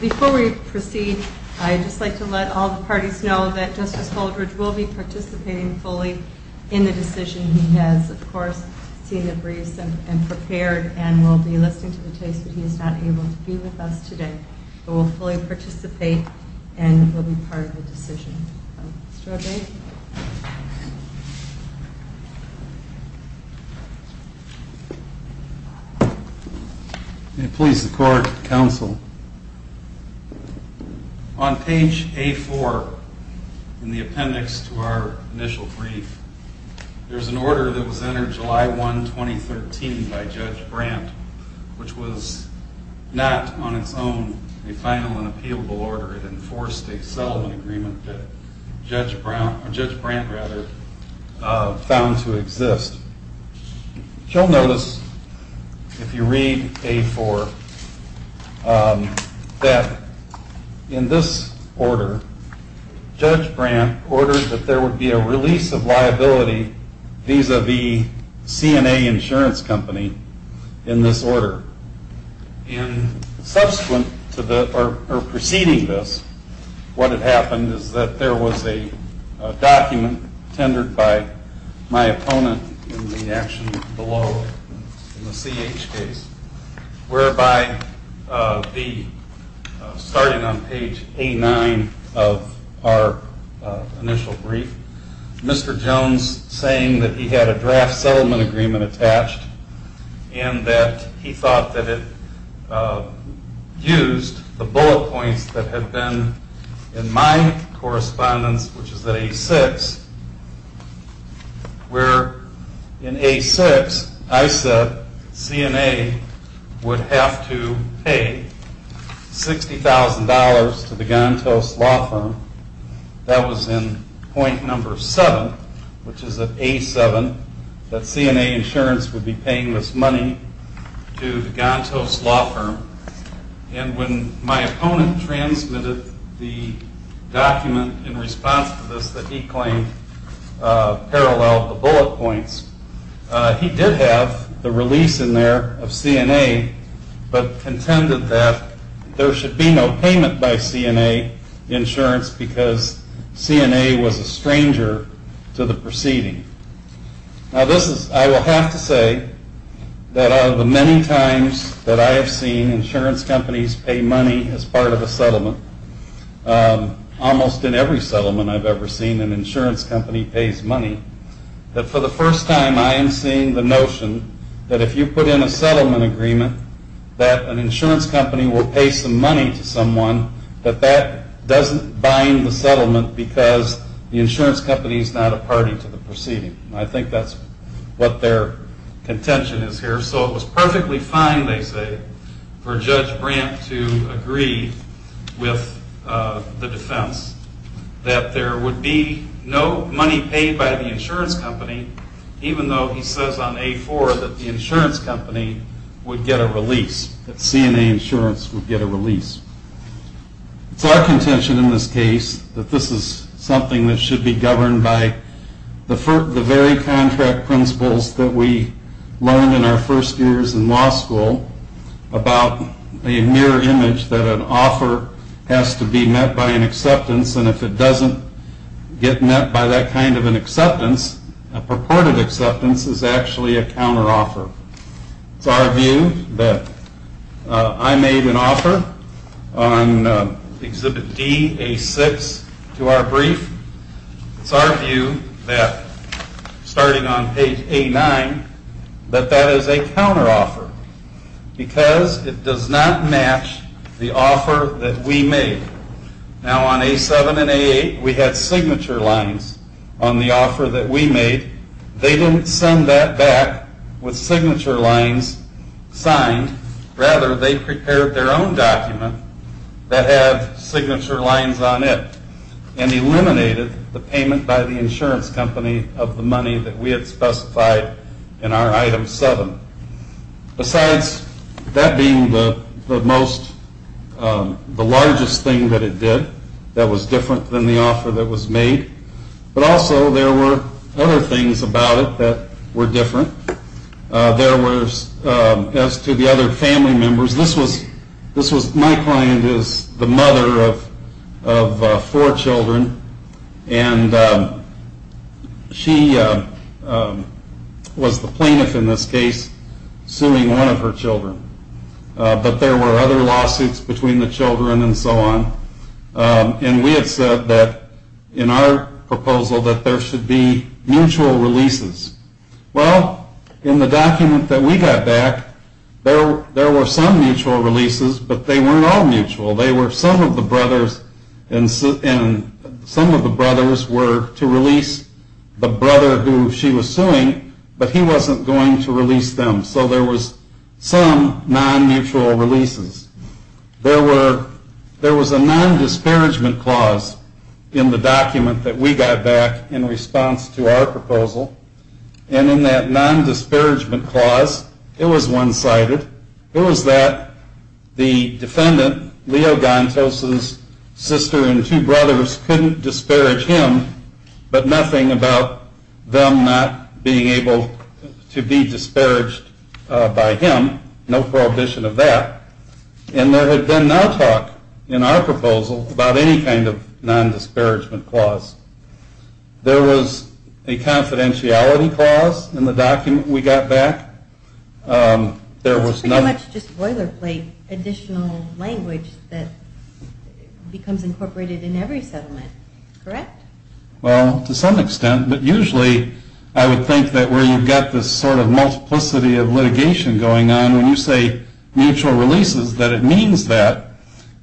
Before we proceed, I'd just like to let all the parties know that Justice Holdridge will be participating fully in the decision. He has, of course, seen the briefs and prepared and will be listening to the case, but he is not able to be with us today, but will fully participate and will be part of the decision. Mr. Abate? May it please the court, counsel. On page A4 in the appendix to our initial brief, there is an order that was entered July 1, 2013 by Judge Brandt, which was not on its own a final and appealable order. It enforced a settlement agreement that Judge Brandt found to exist. You'll notice, if you read A4, that in this order, Judge Brandt ordered that there would be a release of liability vis-a-vis C&A Insurance Company in this order. Subsequent to this, or preceding this, what had happened is that there was a document tendered by my opponent in the action below, in the C.H. case, whereby starting on page A9 of our initial brief, Mr. Jones saying that he had a draft settlement agreement attached, and that he thought that it used the bullet points that had been in my correspondence, which is at A6, where in A6, I said C&A would have to pay $60,000 to the Gantos Law Firm. That was in point number 7, which is at A7, that C&A Insurance would be paying this money to the Gantos Law Firm. And when my opponent transmitted the document in response to this that he claimed paralleled the bullet points, he did have the release in there of C&A, but contended that there should be no payment by C&A Insurance because C&A was a stranger to the proceeding. Now this is, I will have to say, that out of the many times that I have seen insurance companies pay money as part of a settlement, almost in every settlement I've ever seen an insurance company pays money, that for the first time I am seeing the notion that if you put in a settlement agreement that an insurance company will pay some money to someone, that that doesn't bind the settlement because the insurance company is not a party to the proceeding. And I think that's what their contention is here. So it was perfectly fine, they say, for Judge Brandt to agree with the defense that there would be no money paid by the insurance company, even though he says on A4 that the insurance company would get a release, that C&A Insurance would get a release. It's our contention in this case that this is something that should be governed by the very contract principles that we learned in our first years in law school about a mirror image that an offer has to be met by an acceptance and if it doesn't get met by that kind of an acceptance, a purported acceptance is actually a counteroffer. It's our view that I made an offer on Exhibit D, A6 to our brief. It's our view that, starting on page A9, that that is a counteroffer because it does not match the offer that we made. Now on A7 and A8, we had signature lines on the offer that we made. They didn't send that back with signature lines signed. Rather, they prepared their own document that had signature lines on it and eliminated the payment by the insurance company of the money that we had specified in our Item 7. Besides that being the largest thing that it did that was different than the offer that was made, but also there were other things about it that were different. As to the other family members, my client is the mother of four children and she was the plaintiff in this case suing one of her children, but there were other lawsuits between the children and so on. And we had said that in our proposal that there should be mutual releases. Well, in the document that we got back, there were some mutual releases, but they weren't all mutual. Some of the brothers were to release the brother who she was suing, but he wasn't going to release them. So there were some non-mutual releases. There was a non-disparagement clause in the document that we got back in response to our proposal, and in that non-disparagement clause, it was one-sided. It was that the defendant, Leo Gantos's sister and two brothers, couldn't disparage him, but nothing about them not being able to be disparaged by him. No prohibition of that. And there had been no talk in our proposal about any kind of non-disparagement clause. There was a confidentiality clause in the document we got back. It's pretty much just boilerplate additional language that becomes incorporated in every settlement, correct? Well, to some extent, but usually I would think that where you've got this sort of multiplicity of litigation going on, when you say mutual releases, that it means that.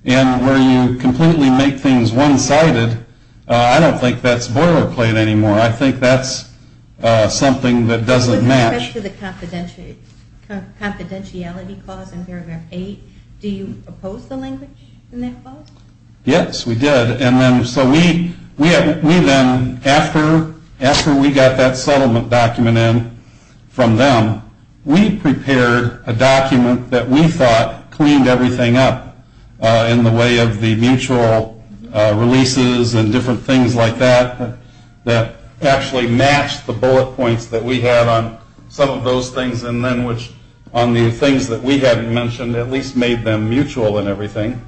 And where you completely make things one-sided, I don't think that's boilerplate anymore. I think that's something that doesn't match. With respect to the confidentiality clause in paragraph 8, do you oppose the language in that clause? Yes, we did. And so we then, after we got that settlement document in from them, we prepared a document that we thought cleaned everything up in the way of the mutual releases and different things like that, that actually matched the bullet points that we had on some of those things, and then which, on the things that we hadn't mentioned, at least made them mutual and everything.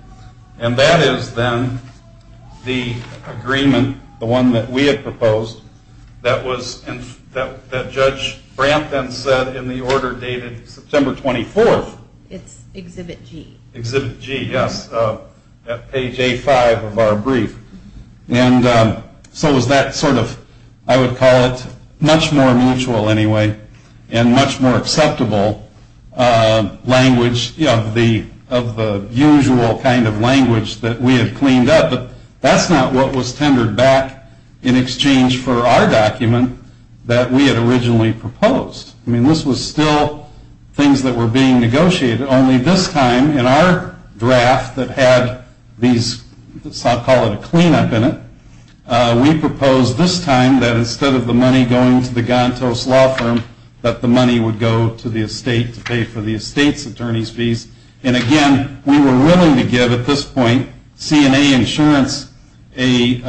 And that is then the agreement, the one that we had proposed, that Judge Brandt then said in the order dated September 24th. It's Exhibit G. Exhibit G, yes. Page A5 of our brief. And so was that sort of, I would call it much more mutual anyway, and much more acceptable language of the usual kind of language that we had cleaned up. But that's not what was tendered back in exchange for our document that we had originally proposed. I mean, this was still things that were being negotiated, only this time in our draft that had these, I'll call it a cleanup in it, we proposed this time that instead of the money going to the Gantos Law Firm, that the money would go to the estate to pay for the estate's attorney's fees. And again, we were willing to give, at this point, CNA Insurance a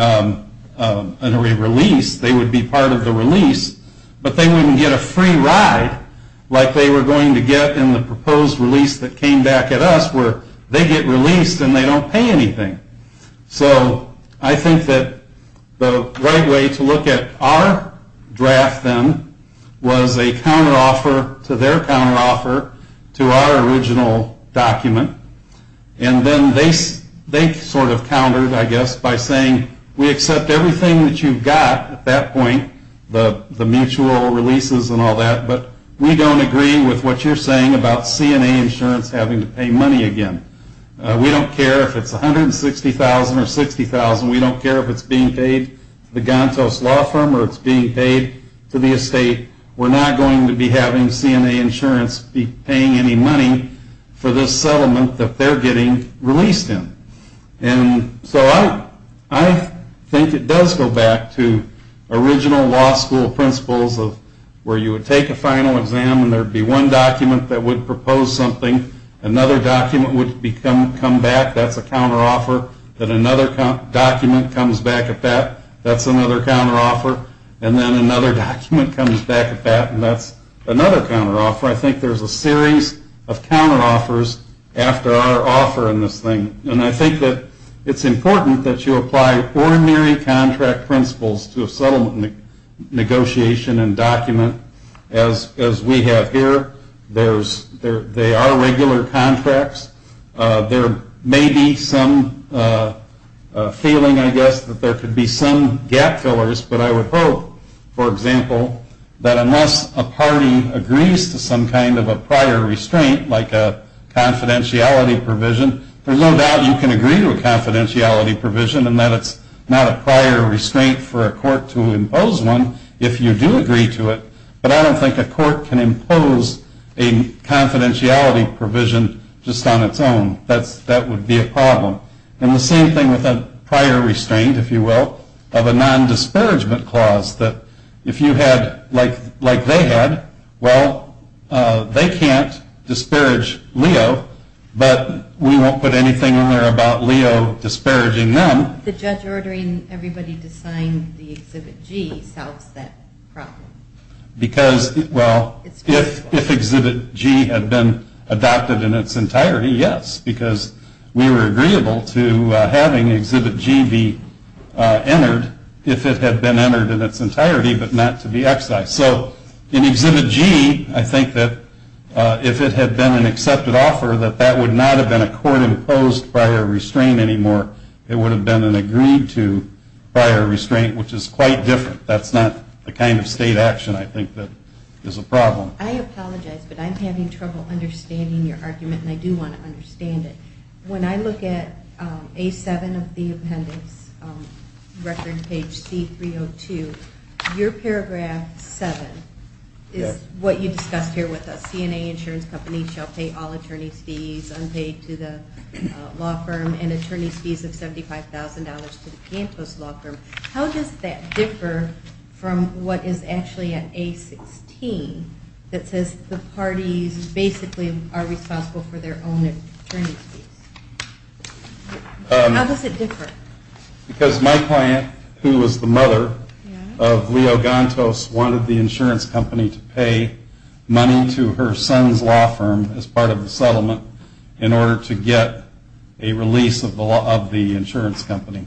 release, they would be part of the release, but they wouldn't get a free ride like they were going to get in the proposed release that came back at us, where they get released and they don't pay anything. So I think that the right way to look at our draft, then, was a counteroffer to their counteroffer to our original document. And then they sort of countered, I guess, by saying, we accept everything that you've got at that point, the mutual releases and all that, but we don't agree with what you're saying about CNA Insurance having to pay money again. We don't care if it's $160,000 or $60,000, we don't care if it's being paid to the Gantos Law Firm or it's being paid to the estate, we're not going to be having CNA Insurance be paying any money for this settlement that they're getting released in. And so I think it does go back to original law school principles of where you would take a final exam and there would be one document that would propose something, another document would come back, that's a counteroffer, then another document comes back at that, that's another counteroffer, and then another document comes back at that, and that's another counteroffer. I think there's a series of counteroffers after our offer in this thing. And I think that it's important that you apply ordinary contract principles to a settlement negotiation and document as we have here. They are regular contracts. There may be some feeling, I guess, that there could be some gap fillers, but I would hope, for example, that unless a party agrees to some kind of a prior restraint, like a confidentiality provision, there's no doubt you can agree to a confidentiality provision and that it's not a prior restraint for a court to impose one if you do agree to it, but I don't think a court can impose a confidentiality provision just on its own. That would be a problem. And the same thing with a prior restraint, if you will, of a non-disparagement clause, that if you had, like they had, well, they can't disparage Leo, but we won't put anything in there about Leo disparaging them. The judge ordering everybody to sign the Exhibit G solves that problem. Because, well, if Exhibit G had been adopted in its entirety, yes, because we were agreeable to having Exhibit G be entered if it had been entered in its entirety but not to be excised. So in Exhibit G, I think that if it had been an accepted offer, that that would not have been a court-imposed prior restraint anymore. It would have been an agreed-to prior restraint, which is quite different. But that's not the kind of state action I think that is a problem. I apologize, but I'm having trouble understanding your argument, and I do want to understand it. When I look at A7 of the appendix, record page C302, your paragraph 7 is what you discussed here with us. CNA insurance companies shall pay all attorney's fees unpaid to the law firm and attorney's fees of $75,000 to the campus law firm. How does that differ from what is actually in A16 that says the parties basically are responsible for their own attorney's fees? How does it differ? Because my client, who was the mother of Leo Gantos, wanted the insurance company to pay money to her son's law firm as part of the settlement in order to get a release of the insurance company.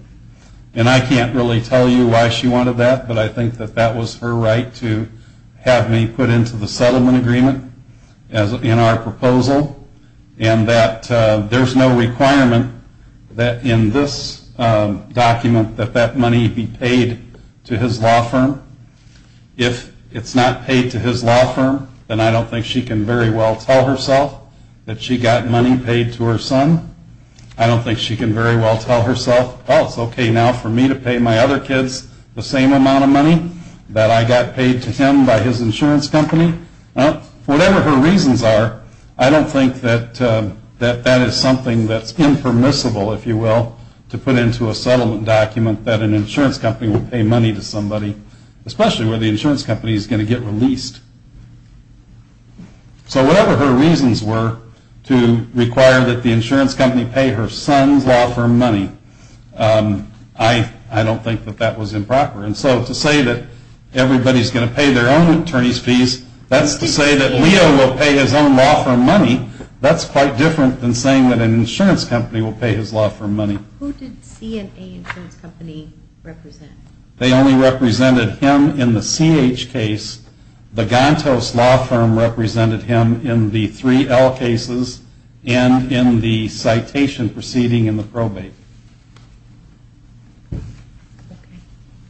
And I can't really tell you why she wanted that, but I think that that was her right to have me put into the settlement agreement in our proposal, and that there's no requirement that in this document that that money be paid to his law firm. If it's not paid to his law firm, then I don't think she can very well tell herself that she got money paid to her son. I don't think she can very well tell herself, oh, it's okay now for me to pay my other kids the same amount of money that I got paid to him by his insurance company. Whatever her reasons are, I don't think that that is something that's impermissible, if you will, to put into a settlement document that an insurance company would pay money to somebody, especially where the insurance company is going to get released. So whatever her reasons were to require that the insurance company pay her son's law firm money, I don't think that that was improper. And so to say that everybody's going to pay their own attorney's fees, that's to say that Leo will pay his own law firm money, that's quite different than saying that an insurance company will pay his law firm money. Who did C&A Insurance Company represent? They only represented him in the CH case. The Gantos law firm represented him in the 3L cases and in the citation proceeding in the probate.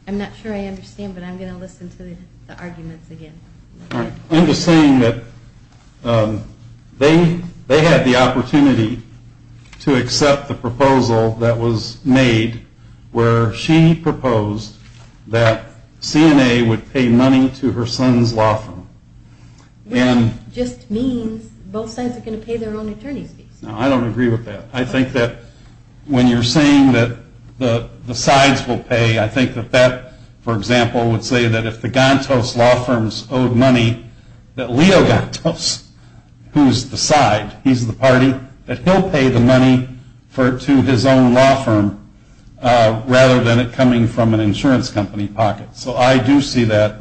I'm not sure I understand, but I'm going to listen to the arguments again. I'm just saying that they had the opportunity to accept the proposal that was made where she proposed that C&A would pay money to her son's law firm. Which just means both sides are going to pay their own attorney's fees. No, I don't agree with that. I think that when you're saying that the sides will pay, I think that that, for example, would say that if the Gantos law firms owed money, that Leo Gantos, who's the side, he's the party, that he'll pay the money to his own law firm rather than it coming from an insurance company pocket. So I do see that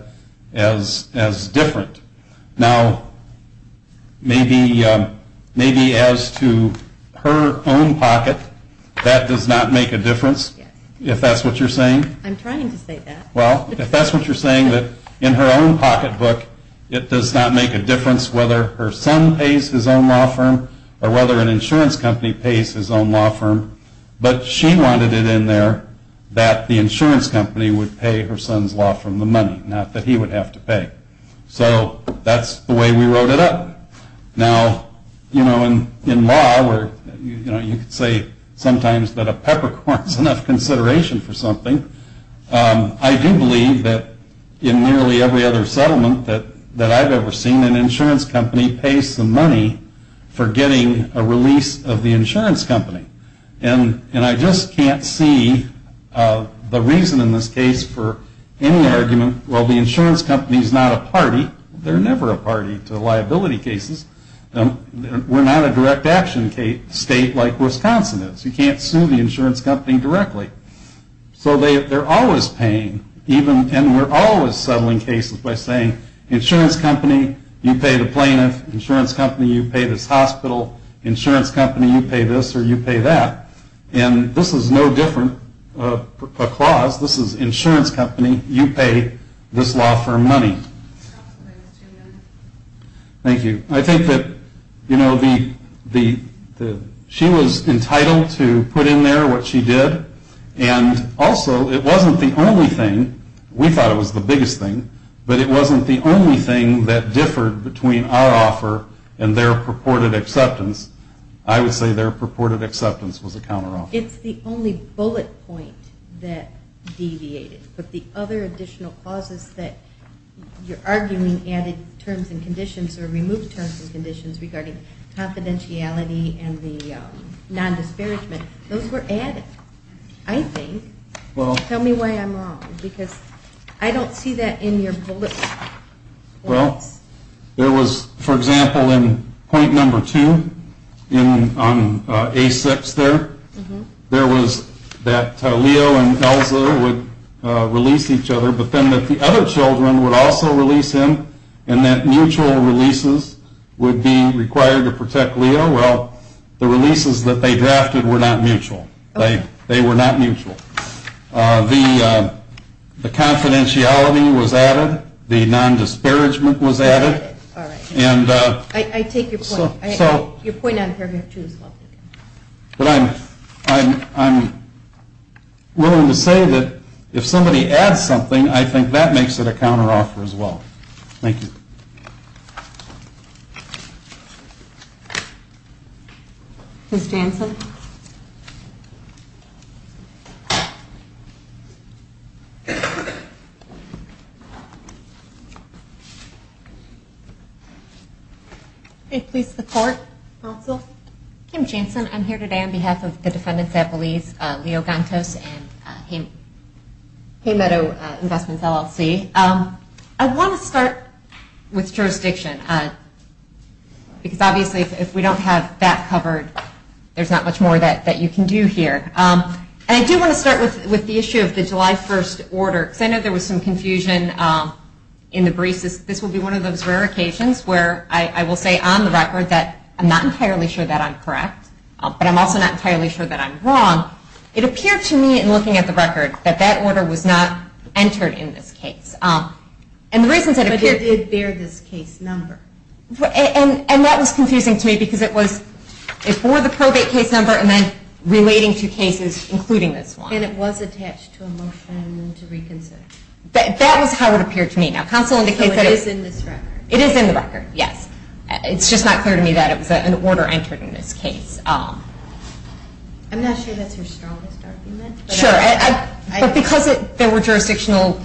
as different. Now, maybe as to her own pocket, that does not make a difference, if that's what you're saying. I'm trying to say that. Well, if that's what you're saying, that in her own pocketbook it does not make a difference whether her son pays his own law firm or whether an insurance company pays his own law firm. But she wanted it in there that the insurance company would pay her son's law firm the money, not that he would have to pay. So that's the way we wrote it up. Now, you know, in law, you could say sometimes that a peppercorn is enough consideration for something. I do believe that in nearly every other settlement that I've ever seen, an insurance company pays some money for getting a release of the insurance company. And I just can't see the reason in this case for any argument, well, the insurance company is not a party. They're never a party to liability cases. We're not a direct action state like Wisconsin is. You can't sue the insurance company directly. So they're always paying, and we're always settling cases by saying, insurance company, you pay the plaintiff. Insurance company, you pay this hospital. Insurance company, you pay this or you pay that. And this is no different, a clause. This is insurance company, you pay this law firm money. Thank you. I think that, you know, she was entitled to put in there what she did. And also, it wasn't the only thing. We thought it was the biggest thing. But it wasn't the only thing that differed between our offer and their purported acceptance. I would say their purported acceptance was a counteroffer. It's the only bullet point that deviated. But the other additional clauses that you're arguing added terms and conditions or removed terms and conditions regarding confidentiality and the non-disparagement, those were added, I think. Tell me why I'm wrong, because I don't see that in your bullet points. Well, there was, for example, in point number two, on A6 there, there was that Leo and Elsa would release each other, but then that the other children would also release him, and that mutual releases would be required to protect Leo. Well, the releases that they drafted were not mutual. They were not mutual. The confidentiality was added. The non-disparagement was added. I take your point. Your point on paragraph two as well. But I'm willing to say that if somebody adds something, I think that makes it a counteroffer as well. Thank you. Ms. Jansen? Ms. Jansen? Please support, also. Kim Jansen, I'm here today on behalf of the defendants at Belize, Leo Gantos and Haymeadow Investments, LLC. I want to start with jurisdiction, because obviously if we don't have that covered, there's not much more that you can do here. And I do want to start with the issue of the July 1st order, because I know there was some confusion in the briefs. This will be one of those rare occasions where I will say on the record that I'm not entirely sure that I'm correct, but I'm also not entirely sure that I'm wrong. It appeared to me in looking at the record that that order was not entered in this case. But it did bear this case number. And that was confusing to me, because it bore the probate case number and then relating to cases including this one. And it was attached to a motion to reconsider. That was how it appeared to me. So it is in this record. It is in the record, yes. It's just not clear to me that an order entered in this case. I'm not sure that's your strongest argument. Sure. But because there were jurisdictional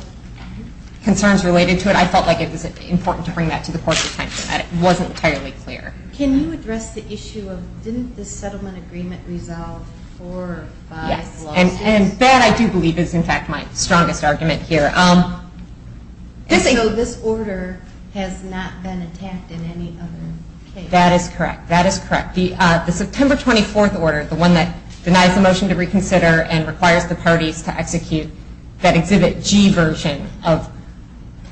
concerns related to it, I felt like it was important to bring that to the Court of Attention, that it wasn't entirely clear. Can you address the issue of didn't the settlement agreement resolve four or five lawsuits? And that, I do believe, is, in fact, my strongest argument here. And so this order has not been attacked in any other case? That is correct. That is correct. The September 24th order, the one that denies the motion to reconsider and requires the parties to execute that Exhibit G version of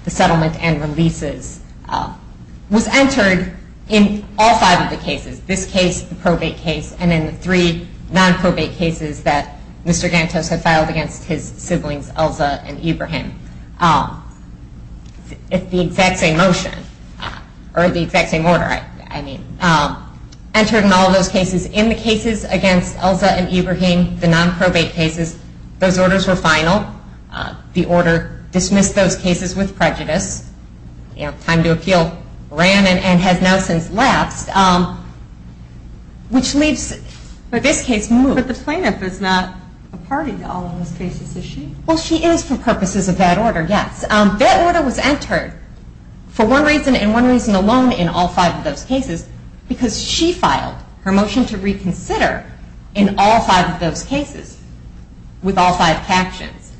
the settlement and releases, was entered in all five of the cases, this case, the probate case, and in the three non-probate cases that Mr. Gantos had filed against his siblings, Elza and Ibrahim. It's the exact same motion. Or the exact same order, I mean. Entered in all of those cases. In the cases against Elza and Ibrahim, the non-probate cases, those orders were final. The order dismissed those cases with prejudice. Time to appeal ran and has now since lapsed. Which leaves this case moved. But the plaintiff is not a party to all of those cases, is she? Well, she is for purposes of that order, yes. That order was entered for one reason and one reason alone in all five of those cases. Because she filed her motion to reconsider in all five of those cases. With all five captions.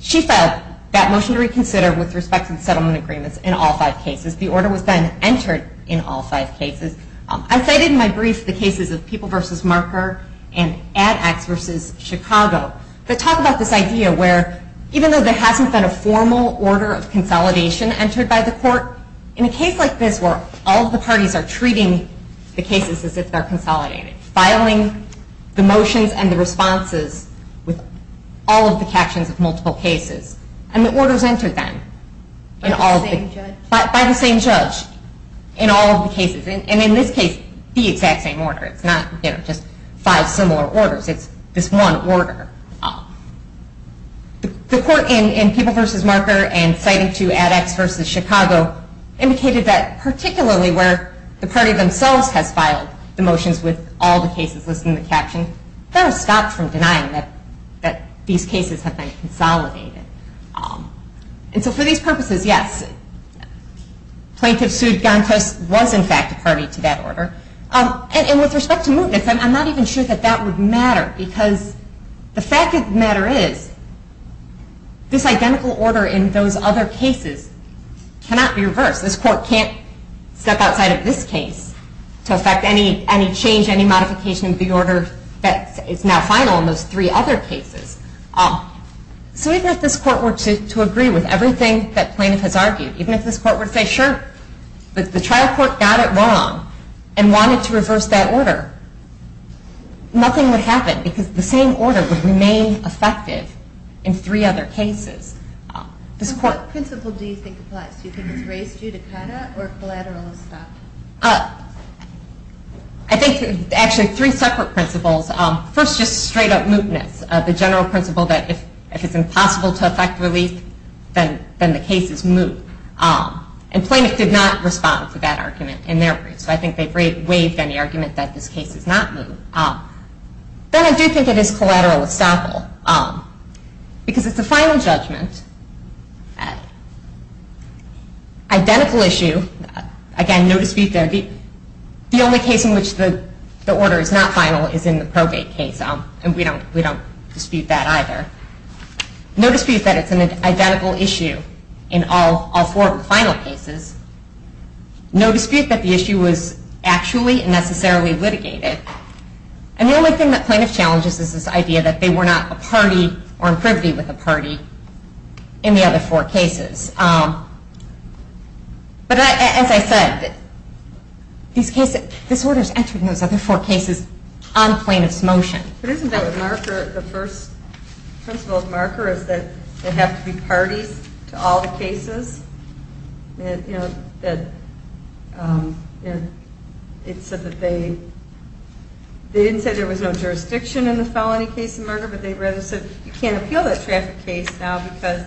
She filed that motion to reconsider with respect to the settlement agreements in all five cases. The order was then entered in all five cases. I cited in my brief the cases of People v. Marker and Ad Acts v. Chicago, that talk about this idea where, even though there hasn't been a formal order of consolidation entered by the court, in a case like this where all of the parties are treating the cases as if they're consolidated, filing the motions and the responses with all of the captions of multiple cases, and the order's entered then. By the same judge. By the same judge. In all of the cases. And in this case, the exact same order. It's not just five similar orders. It's this one order. The court in People v. Marker and citing to Ad Acts v. Chicago, indicated that particularly where the party themselves has filed the motions with all the cases listed in the caption, that has stopped from denying that these cases have been consolidated. And so for these purposes, yes. Plaintiff sued Gantos was in fact a party to that order. And with respect to movements, I'm not even sure that that would matter. Because the fact of the matter is, this identical order in those other cases cannot be reversed. This court can't step outside of this case to affect any change, any modification of the order that is now final in those three other cases. So even if this court were to agree with everything that plaintiff has argued, even if this court were to say, sure, but the trial court got it wrong and wanted to reverse that order, nothing would happen because the same order would remain effective in three other cases. What principle do you think applies? Do you think it's race judicata or collateralism? I think actually three separate principles. First, just straight up mootness. The general principle that if it's impossible to affect relief, then the case is moot. And plaintiff did not respond to that argument in their brief. So I think they've waived any argument that this case is not moot. Then I do think it is collateral estoppel because it's a final judgment. Identical issue, again, no dispute there. The only case in which the order is not final is in the probate case. And we don't dispute that either. No dispute that it's an identical issue in all four of the final cases. No dispute that the issue was actually and necessarily litigated. And the only thing that plaintiff challenges is this idea that they were not a party or in privity with a party in the other four cases. But as I said, this order is entered in those other four cases on plaintiff's motion. But isn't that the first principle of marker is that there have to be parties to all the cases? It said that they didn't say there was no jurisdiction in the felony case of murder, but they rather said you can't appeal that traffic case now because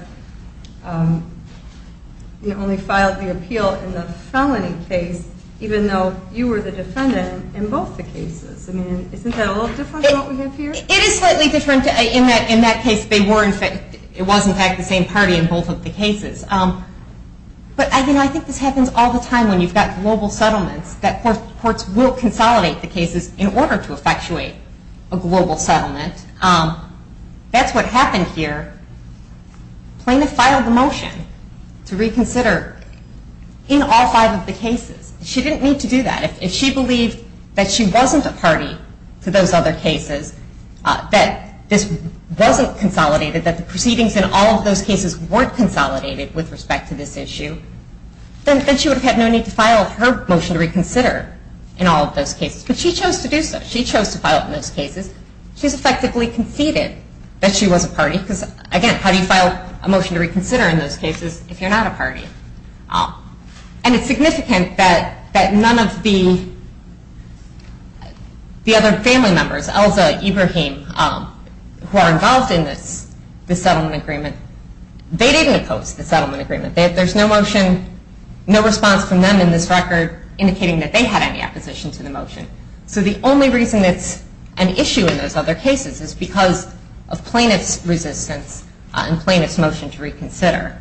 you only filed the appeal in the felony case even though you were the defendant in both the cases. I mean, isn't that a little different from what we have here? It is slightly different. In that case, it was in fact the same party in both of the cases. But I think this happens all the time when you've got global settlements that courts will consolidate the cases in order to effectuate a global settlement. That's what happened here. Plaintiff filed the motion to reconsider in all five of the cases. She didn't need to do that. If she believed that she wasn't a party to those other cases, that this wasn't consolidated, that the proceedings in all of those cases weren't consolidated with respect to this issue, then she would have had no need to file her motion to reconsider in all of those cases. But she chose to do so. She chose to file it in those cases. She's effectively conceded that she was a party because, again, how do you file a motion to reconsider in those cases if you're not a party? And it's significant that none of the other family members, Elza, Ibrahim, who are involved in this settlement agreement, they didn't oppose the settlement agreement. There's no motion, no response from them in this record, indicating that they had any opposition to the motion. So the only reason it's an issue in those other cases is because of plaintiff's resistance and plaintiff's motion to reconsider.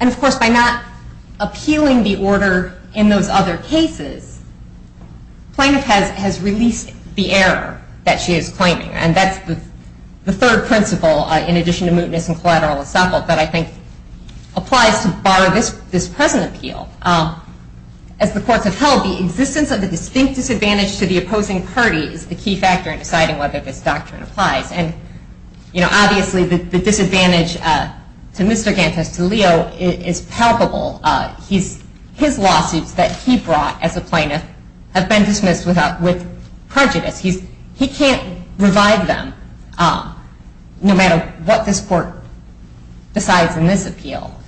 And, of course, by not appealing the order in those other cases, plaintiff has released the error that she is claiming. And that's the third principle, in addition to mootness and collateral estoppel, that I think applies to bar this present appeal. As the courts have held, the existence of the distinct disadvantage to the opposing party is the key factor in deciding whether this doctrine applies. And, obviously, the disadvantage to Mr. Gantes, to Leo, is palpable. His lawsuits that he brought as a plaintiff have been dismissed with prejudice. He can't revive them, no matter what this court decides in this appeal.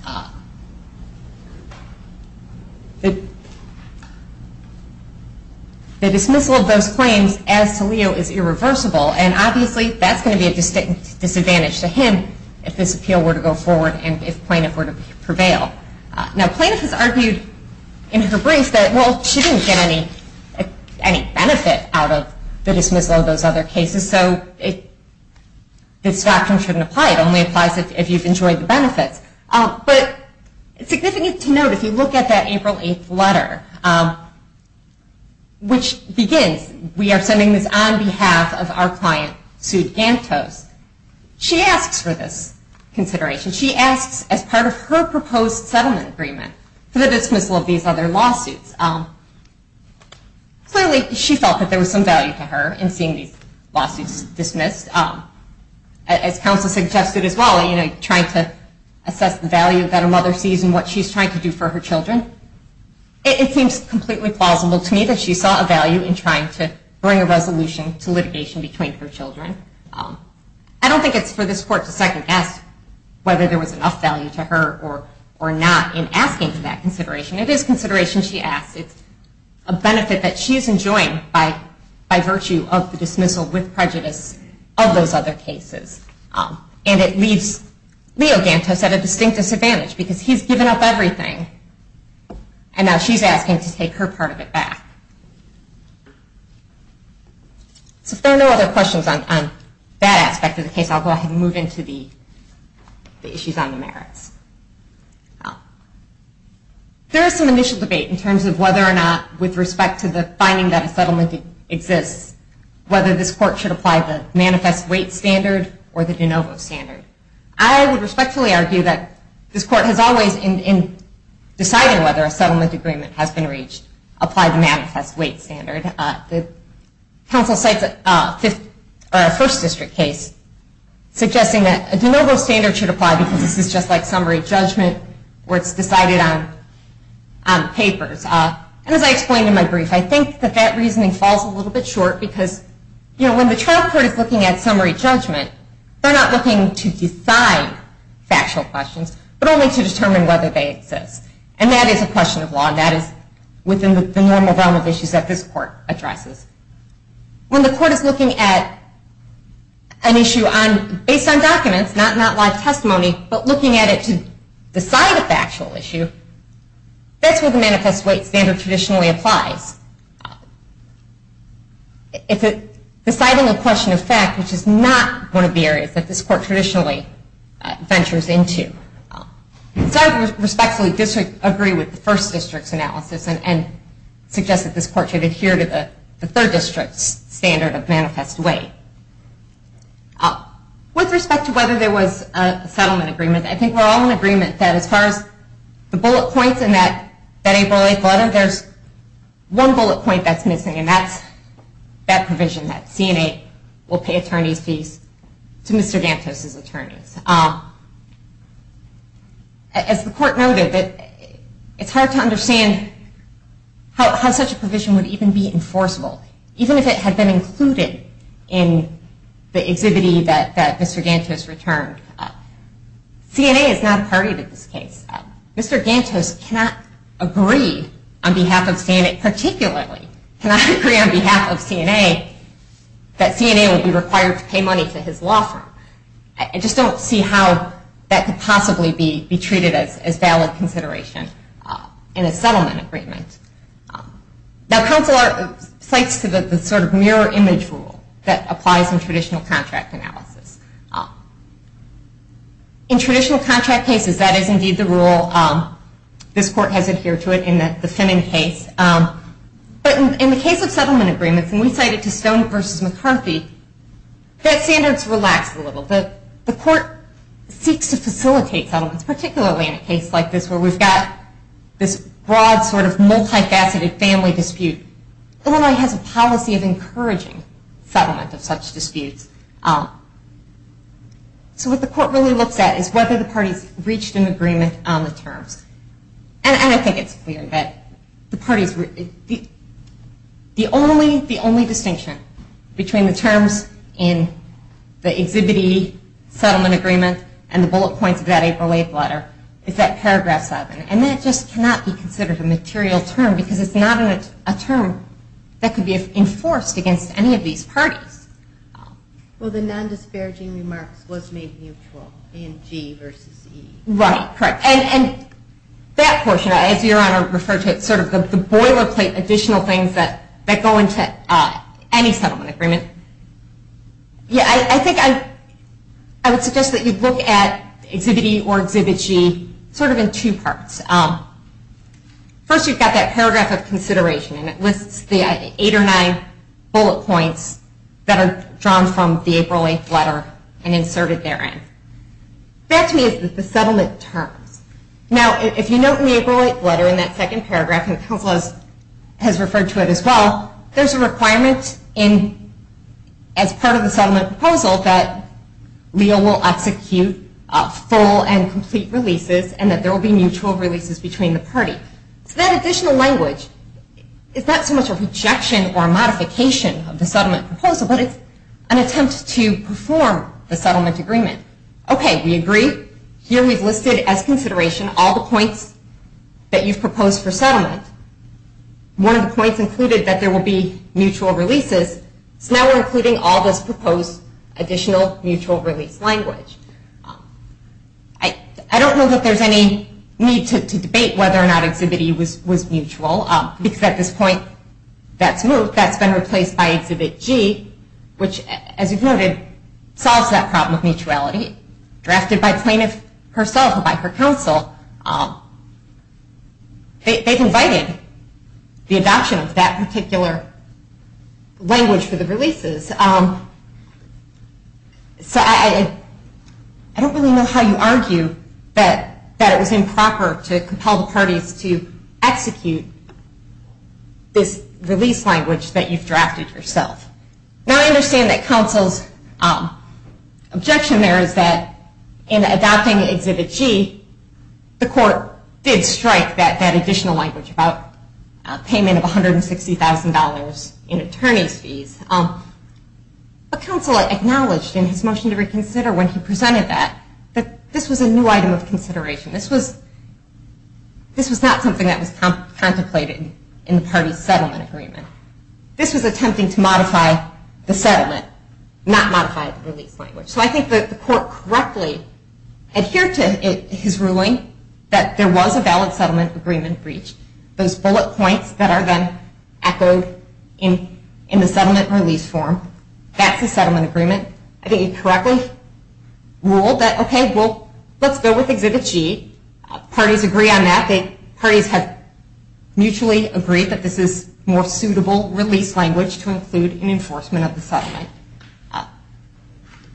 The dismissal of those claims, as to Leo, is irreversible. And, obviously, that's going to be a distinct disadvantage to him if this appeal were to go forward and if plaintiff were to prevail. Now, plaintiff has argued in her brief that, well, she didn't get any benefit out of the dismissal of those other cases. So this doctrine shouldn't apply. It only applies if you've enjoyed the benefits. But it's significant to note, if you look at that April 8th letter, which begins, we are sending this on behalf of our client, Sue Gantos. She asks for this consideration. She asks, as part of her proposed settlement agreement, for the dismissal of these other lawsuits. Clearly, she felt that there was some value to her in seeing these lawsuits dismissed. As counsel suggested as well, trying to assess the value that a mother sees in what she's trying to do for her children, it seems completely plausible to me that she saw a value in trying to bring a resolution to litigation between her children. I don't think it's for this court to second-guess whether there was enough value to her or not in asking for that consideration. It is consideration she asks. It's a benefit that she's enjoying by virtue of the dismissal with prejudice of those other cases. And it leaves Leo Gantos at a distinct disadvantage, because he's given up everything. And now she's asking to take her part of it back. So if there are no other questions on that aspect of the case, I'll go ahead and move into the issues on the merits. There is some initial debate in terms of whether or not, with respect to the finding that a settlement exists, whether this court should apply the manifest weight standard or the de novo standard. I would respectfully argue that this court has always, in deciding whether a settlement agreement has been reached, applied the manifest weight standard. The counsel cites a First District case suggesting that a de novo standard should apply because this is just like summary judgment, where it's decided on papers. And as I explained in my brief, I think that that reasoning falls a little bit short, because when the trial court is looking at summary judgment, they're not looking to decide factual questions, but only to determine whether they exist. And that is a question of law, and that is within the normal realm of issues that this court addresses. When the court is looking at an issue based on documents, not live testimony, but looking at it to decide a factual issue, that's where the manifest weight standard traditionally applies. Deciding a question of fact, which is not one of the areas that this court traditionally ventures into. So I respectfully disagree with the First District's analysis and suggest that this court should adhere to the Third District's standard of manifest weight. With respect to whether there was a settlement agreement, I think we're all in agreement that as far as the bullet points in that April 8 letter, there's one bullet point that's missing, and that's that provision that CNA will pay attorney's fees to Mr. Gantos' attorneys. As the court noted, it's hard to understand how such a provision would even be enforceable, even if it had been included in the exhibit that Mr. Gantos returned. CNA is not a party to this case. Mr. Gantos cannot agree on behalf of CNA, particularly cannot agree on behalf of CNA that CNA would be required to pay money to his law firm. I just don't see how that could possibly be treated as valid consideration in a settlement agreement. Now counsel cites the sort of mirror image rule that applies in traditional contract analysis. In traditional contract cases, that is indeed the rule. This court has adhered to it in the Femming case. But in the case of settlement agreements, and we cite it to Stone v. McCarthy, that standard's relaxed a little bit. The court seeks to facilitate settlements, particularly in a case like this where we've got this broad sort of multifaceted family dispute. Illinois has a policy of encouraging settlement of such disputes. So what the court really looks at is whether the parties reached an agreement on the terms. And I think it's weird that the parties, the only distinction between the terms in the Exhibit E settlement agreement and the bullet points of that April 8th letter is that paragraph 7. And that just cannot be considered a material term because it's not a term that could be enforced against any of these parties. Well, the non-disparaging remarks was made neutral in G v. E. Right, correct. And that portion, as Your Honor referred to it, sort of the boilerplate additional things that go into any settlement agreement. Yeah, I think I would suggest that you look at Exhibit E or Exhibit G sort of in two parts. First, you've got that paragraph of consideration, and it lists the eight or nine bullet points that are drawn from the April 8th letter and inserted therein. That to me is the settlement terms. Now, if you note in the April 8th letter in that second paragraph, and the Counsel has referred to it as well, there's a requirement as part of the settlement proposal that Leo will execute full and complete releases and that there will be mutual releases between the parties. So that additional language is not so much a projection or a modification of the settlement proposal, but it's an attempt to perform the settlement agreement. Okay, we agree. Here we've listed as consideration all the points that you've proposed for settlement. One of the points included that there will be mutual releases, so now we're including all this proposed additional mutual release language. I don't know that there's any need to debate whether or not Exhibit E was mutual, because at this point that's been replaced by Exhibit G, which, as you've noted, solves that problem of mutuality. Drafted by plaintiff herself and by her counsel, they've invited the adoption of that particular language for the releases. So I don't really know how you argue that it was improper to compel the parties to execute this release language that you've drafted yourself. Now I understand that counsel's objection there is that in adopting Exhibit G, the court did strike that additional language about payment of $160,000 in attorney's fees. But counsel acknowledged in his motion to reconsider when he presented that that this was a new item of consideration. This was not something that was contemplated in the parties' settlement agreement. This was attempting to modify the settlement, not modify the release language. So I think that the court correctly adhered to his ruling that there was a valid settlement agreement breach. Those bullet points that are then echoed in the settlement release form, that's the settlement agreement. I think he correctly ruled that, okay, well, let's go with Exhibit G. Parties agree on that. Parties have mutually agreed that this is more suitable release language to include in enforcement of the settlement.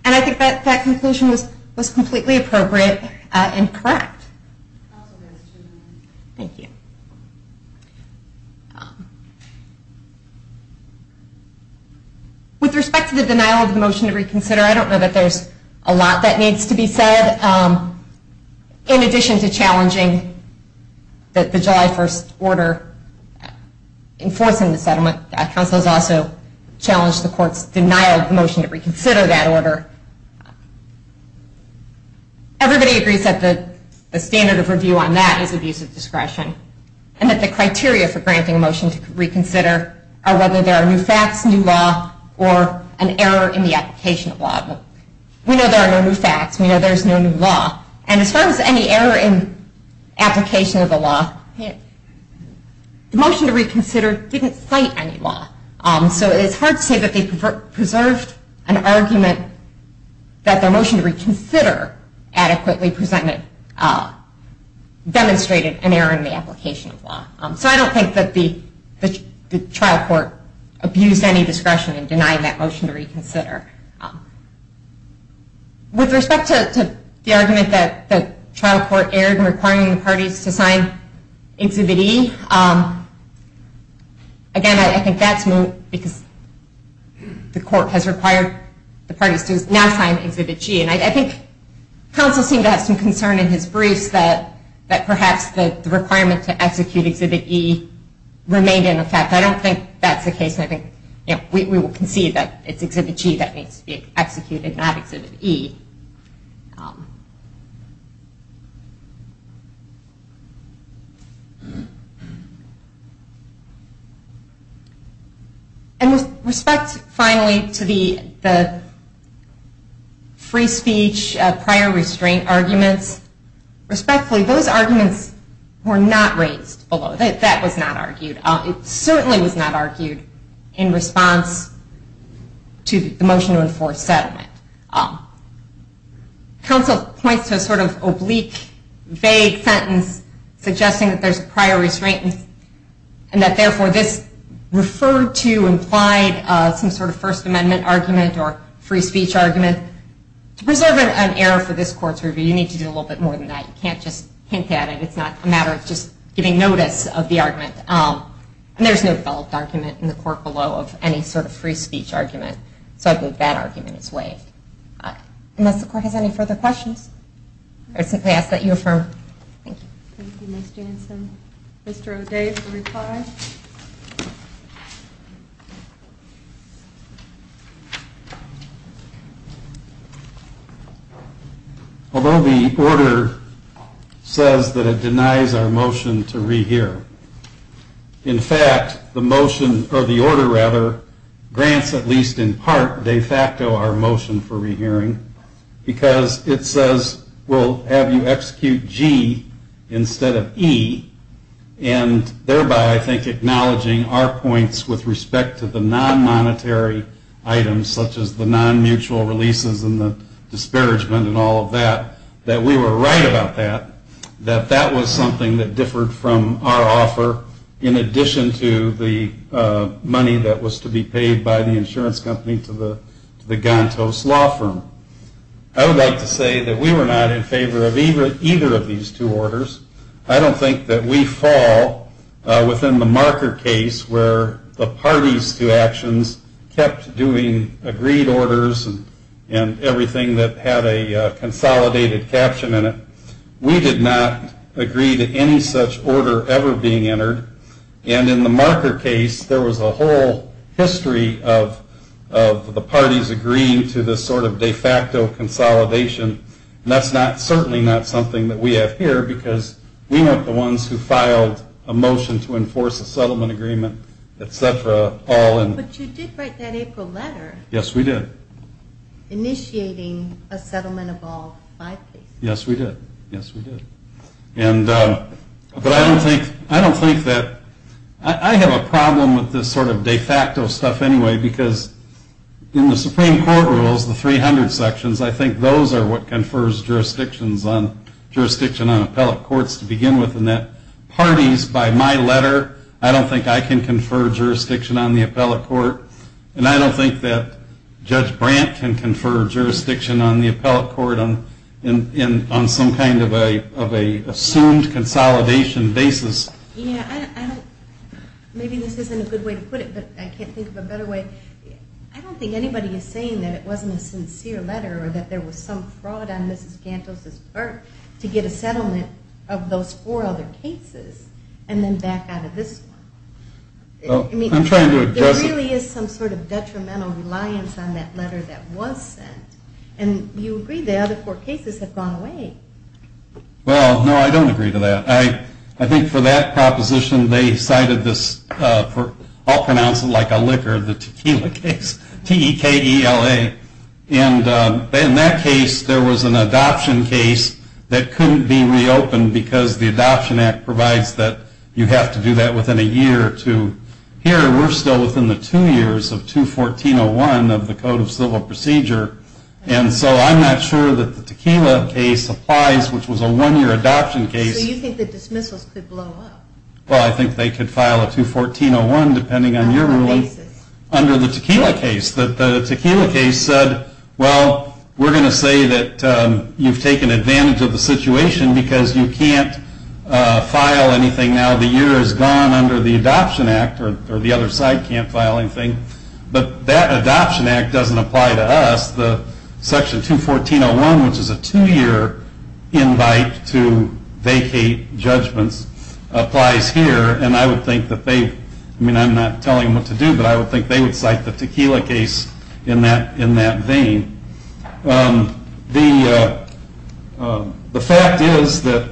And I think that conclusion was completely appropriate and correct. Thank you. With respect to the denial of the motion to reconsider, I don't know that there's a lot that needs to be said. In addition to challenging the July 1st order enforcing the settlement, counsel has also challenged the court's denial of the motion to reconsider that order. Everybody agrees that the standard of review on that is abuse of discretion and that the criteria for granting a motion to reconsider are whether there are new facts, new law, or an error in the application of law. We know there are no new facts. We know there's no new law. And as far as any error in application of the law, the motion to reconsider didn't cite any law. So it's hard to say that they preserved an argument that their motion to reconsider adequately demonstrated an error in the application of law. So I don't think that the trial court abused any discretion in denying that motion to reconsider. With respect to the argument that the trial court erred in requiring the parties to sign Exhibit E, again, I think that's moot because the court has required the parties to now sign Exhibit G. And I think counsel seemed to have some concern in his briefs that perhaps the requirement to execute Exhibit E remained in effect. I don't think that's the case. We will concede that it's Exhibit G that needs to be executed, not Exhibit E. And with respect, finally, to the free speech, prior restraint arguments, respectfully, those arguments were not raised below. That was not argued. It certainly was not argued in response to the motion to enforce settlement. Counsel points to a sort of oblique, vague sentence suggesting that there's a prior restraint and that, therefore, this referred to, implied some sort of First Amendment argument or free speech argument. And to preserve an error for this court's review, you need to do a little bit more than that. You can't just hint at it. It's not a matter of just giving notice of the argument. And there's no developed argument in the court below of any sort of free speech argument. So I believe that argument is waived. Unless the court has any further questions. I would simply ask that you affirm. Thank you. Thank you, Ms. Jansen. Mr. O'Day for reply. Although the order says that it denies our motion to rehear, in fact, the order grants, at least in part, de facto our motion for rehearing because it says we'll have you execute G instead of E, and thereby, I think, acknowledging our points with respect to the non-monetary items, such as the non-mutual releases and the disparagement and all of that, that we were right about that, that that was something that differed from our offer in addition to the money that was to be paid by the insurance company to the Gantos law firm. I would like to say that we were not in favor of either of these two orders. I don't think that we fall within the marker case where the parties to actions kept doing agreed orders and everything that had a consolidated caption in it. We did not agree to any such order ever being entered, and in the marker case, there was a whole history of the parties agreeing to this sort of de facto consolidation, and that's certainly not something that we have here because we weren't the ones who filed a motion to enforce a settlement agreement, et cetera. But you did write that April letter. Yes, we did. Initiating a settlement of all five cases. Yes, we did. Yes, we did. But I don't think that I have a problem with this sort of de facto stuff anyway because in the Supreme Court rules, the 300 sections, I think those are what confers jurisdiction on appellate courts to begin with and that parties by my letter, I don't think I can confer jurisdiction on the appellate court, and I don't think that Judge Brandt can confer jurisdiction on the appellate court on some kind of an assumed consolidation basis. Yes, I don't... Maybe this isn't a good way to put it, but I can't think of a better way. I don't think anybody is saying that it wasn't a sincere letter or that there was some fraud on Mrs. Gantos' part to get a settlement of those four other cases and then back out of this one. I'm trying to address it. There really is some sort of detrimental reliance on that letter that was sent, and you agree the other four cases have gone away. Well, no, I don't agree to that. I think for that proposition, they cited this, I'll pronounce it like a liquor, the tequila case, T-E-K-E-L-A, and in that case, there was an adoption case that couldn't be reopened because the Adoption Act provides that you have to do that within a year or two. Here, we're still within the two years of 214.01 of the Code of Civil Procedure, and so I'm not sure that the tequila case applies, which was a one-year adoption case. So you think the dismissals could blow up? Well, I think they could file a 214.01, depending on your ruling, under the tequila case. The tequila case said, well, we're going to say that you've taken advantage of the situation because you can't file anything now. The year has gone under the Adoption Act, or the other side can't file anything, but that Adoption Act doesn't apply to us. Section 214.01, which is a two-year invite to vacate judgments, applies here, and I would think that they would cite the tequila case in that vein. The fact is that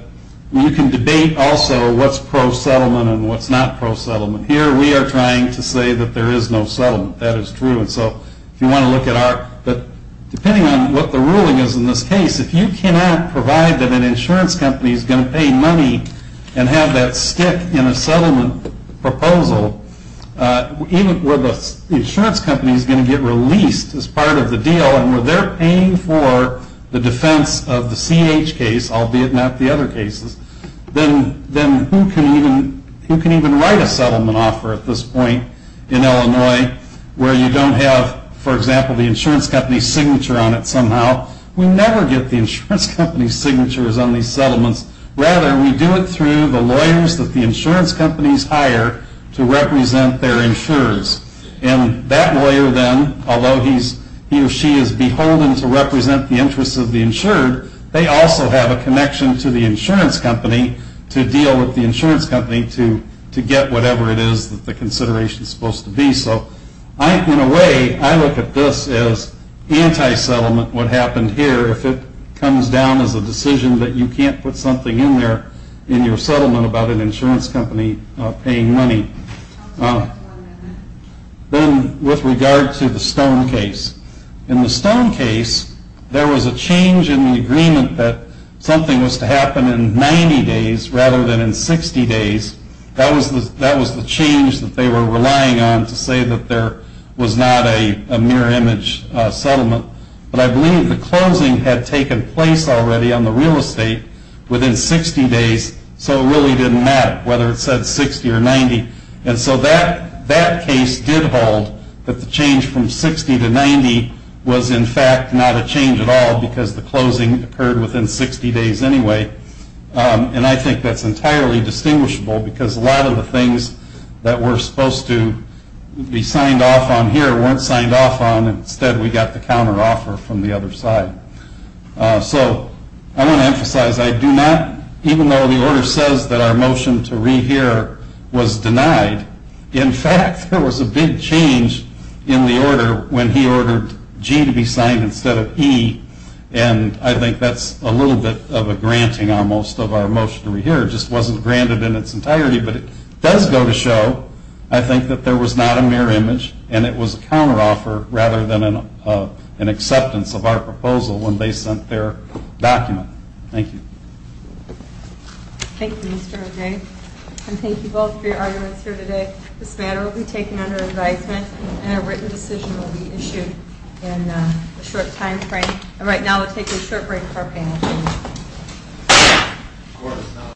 you can debate also what's pro-settlement and what's not pro-settlement. Here, we are trying to say that there is no settlement. That is true. Depending on what the ruling is in this case, if you cannot provide that an insurance company is going to pay money and have that stick in a settlement proposal, even where the insurance company is going to get released as part of the deal, and where they're paying for the defense of the CH case, albeit not the other cases, then who can even write a settlement offer at this point in Illinois where you don't have, for example, the insurance company's signature on it somehow? We never get the insurance company's signatures on these settlements. Rather, we do it through the lawyers that the insurance companies hire to represent their insurers. And that lawyer then, although he or she is beholden to represent the interests of the insured, they also have a connection to the insurance company to deal with the insurance company to get whatever it is that the consideration is supposed to be. So, in a way, I look at this as anti-settlement, what happened here, if it comes down as a decision that you can't put something in there in your settlement about an insurance company paying money. Then, with regard to the Stone case. In the Stone case, there was a change in the agreement that something was to happen in 90 days rather than in 60 days. That was the change that they were relying on to say that there was not a mirror image settlement. But I believe the closing had taken place already on the real estate within 60 days, so it really didn't matter whether it said 60 or 90. And so that case did hold that the change from 60 to 90 was, in fact, not a change at all because the closing occurred within 60 days anyway. And I think that's entirely distinguishable because a lot of the things that were supposed to be signed off on here weren't signed off on. Instead, we got the counteroffer from the other side. So, I want to emphasize, I do not, even though the order says that our motion to rehear was denied, in fact, there was a big change in the order when he ordered G to be signed instead of E, and I think that's a little bit of a granting almost of our motion to rehear. It just wasn't granted in its entirety, but it does go to show, I think, that there was not a mirror image and it was a counteroffer rather than an acceptance of our proposal when they sent their document. Thank you. Thank you, Mr. O'Day, and thank you both for your arguments here today. This matter will be taken under advisement and a written decision will be issued in a short time frame. And right now, we'll take a short break for our panel.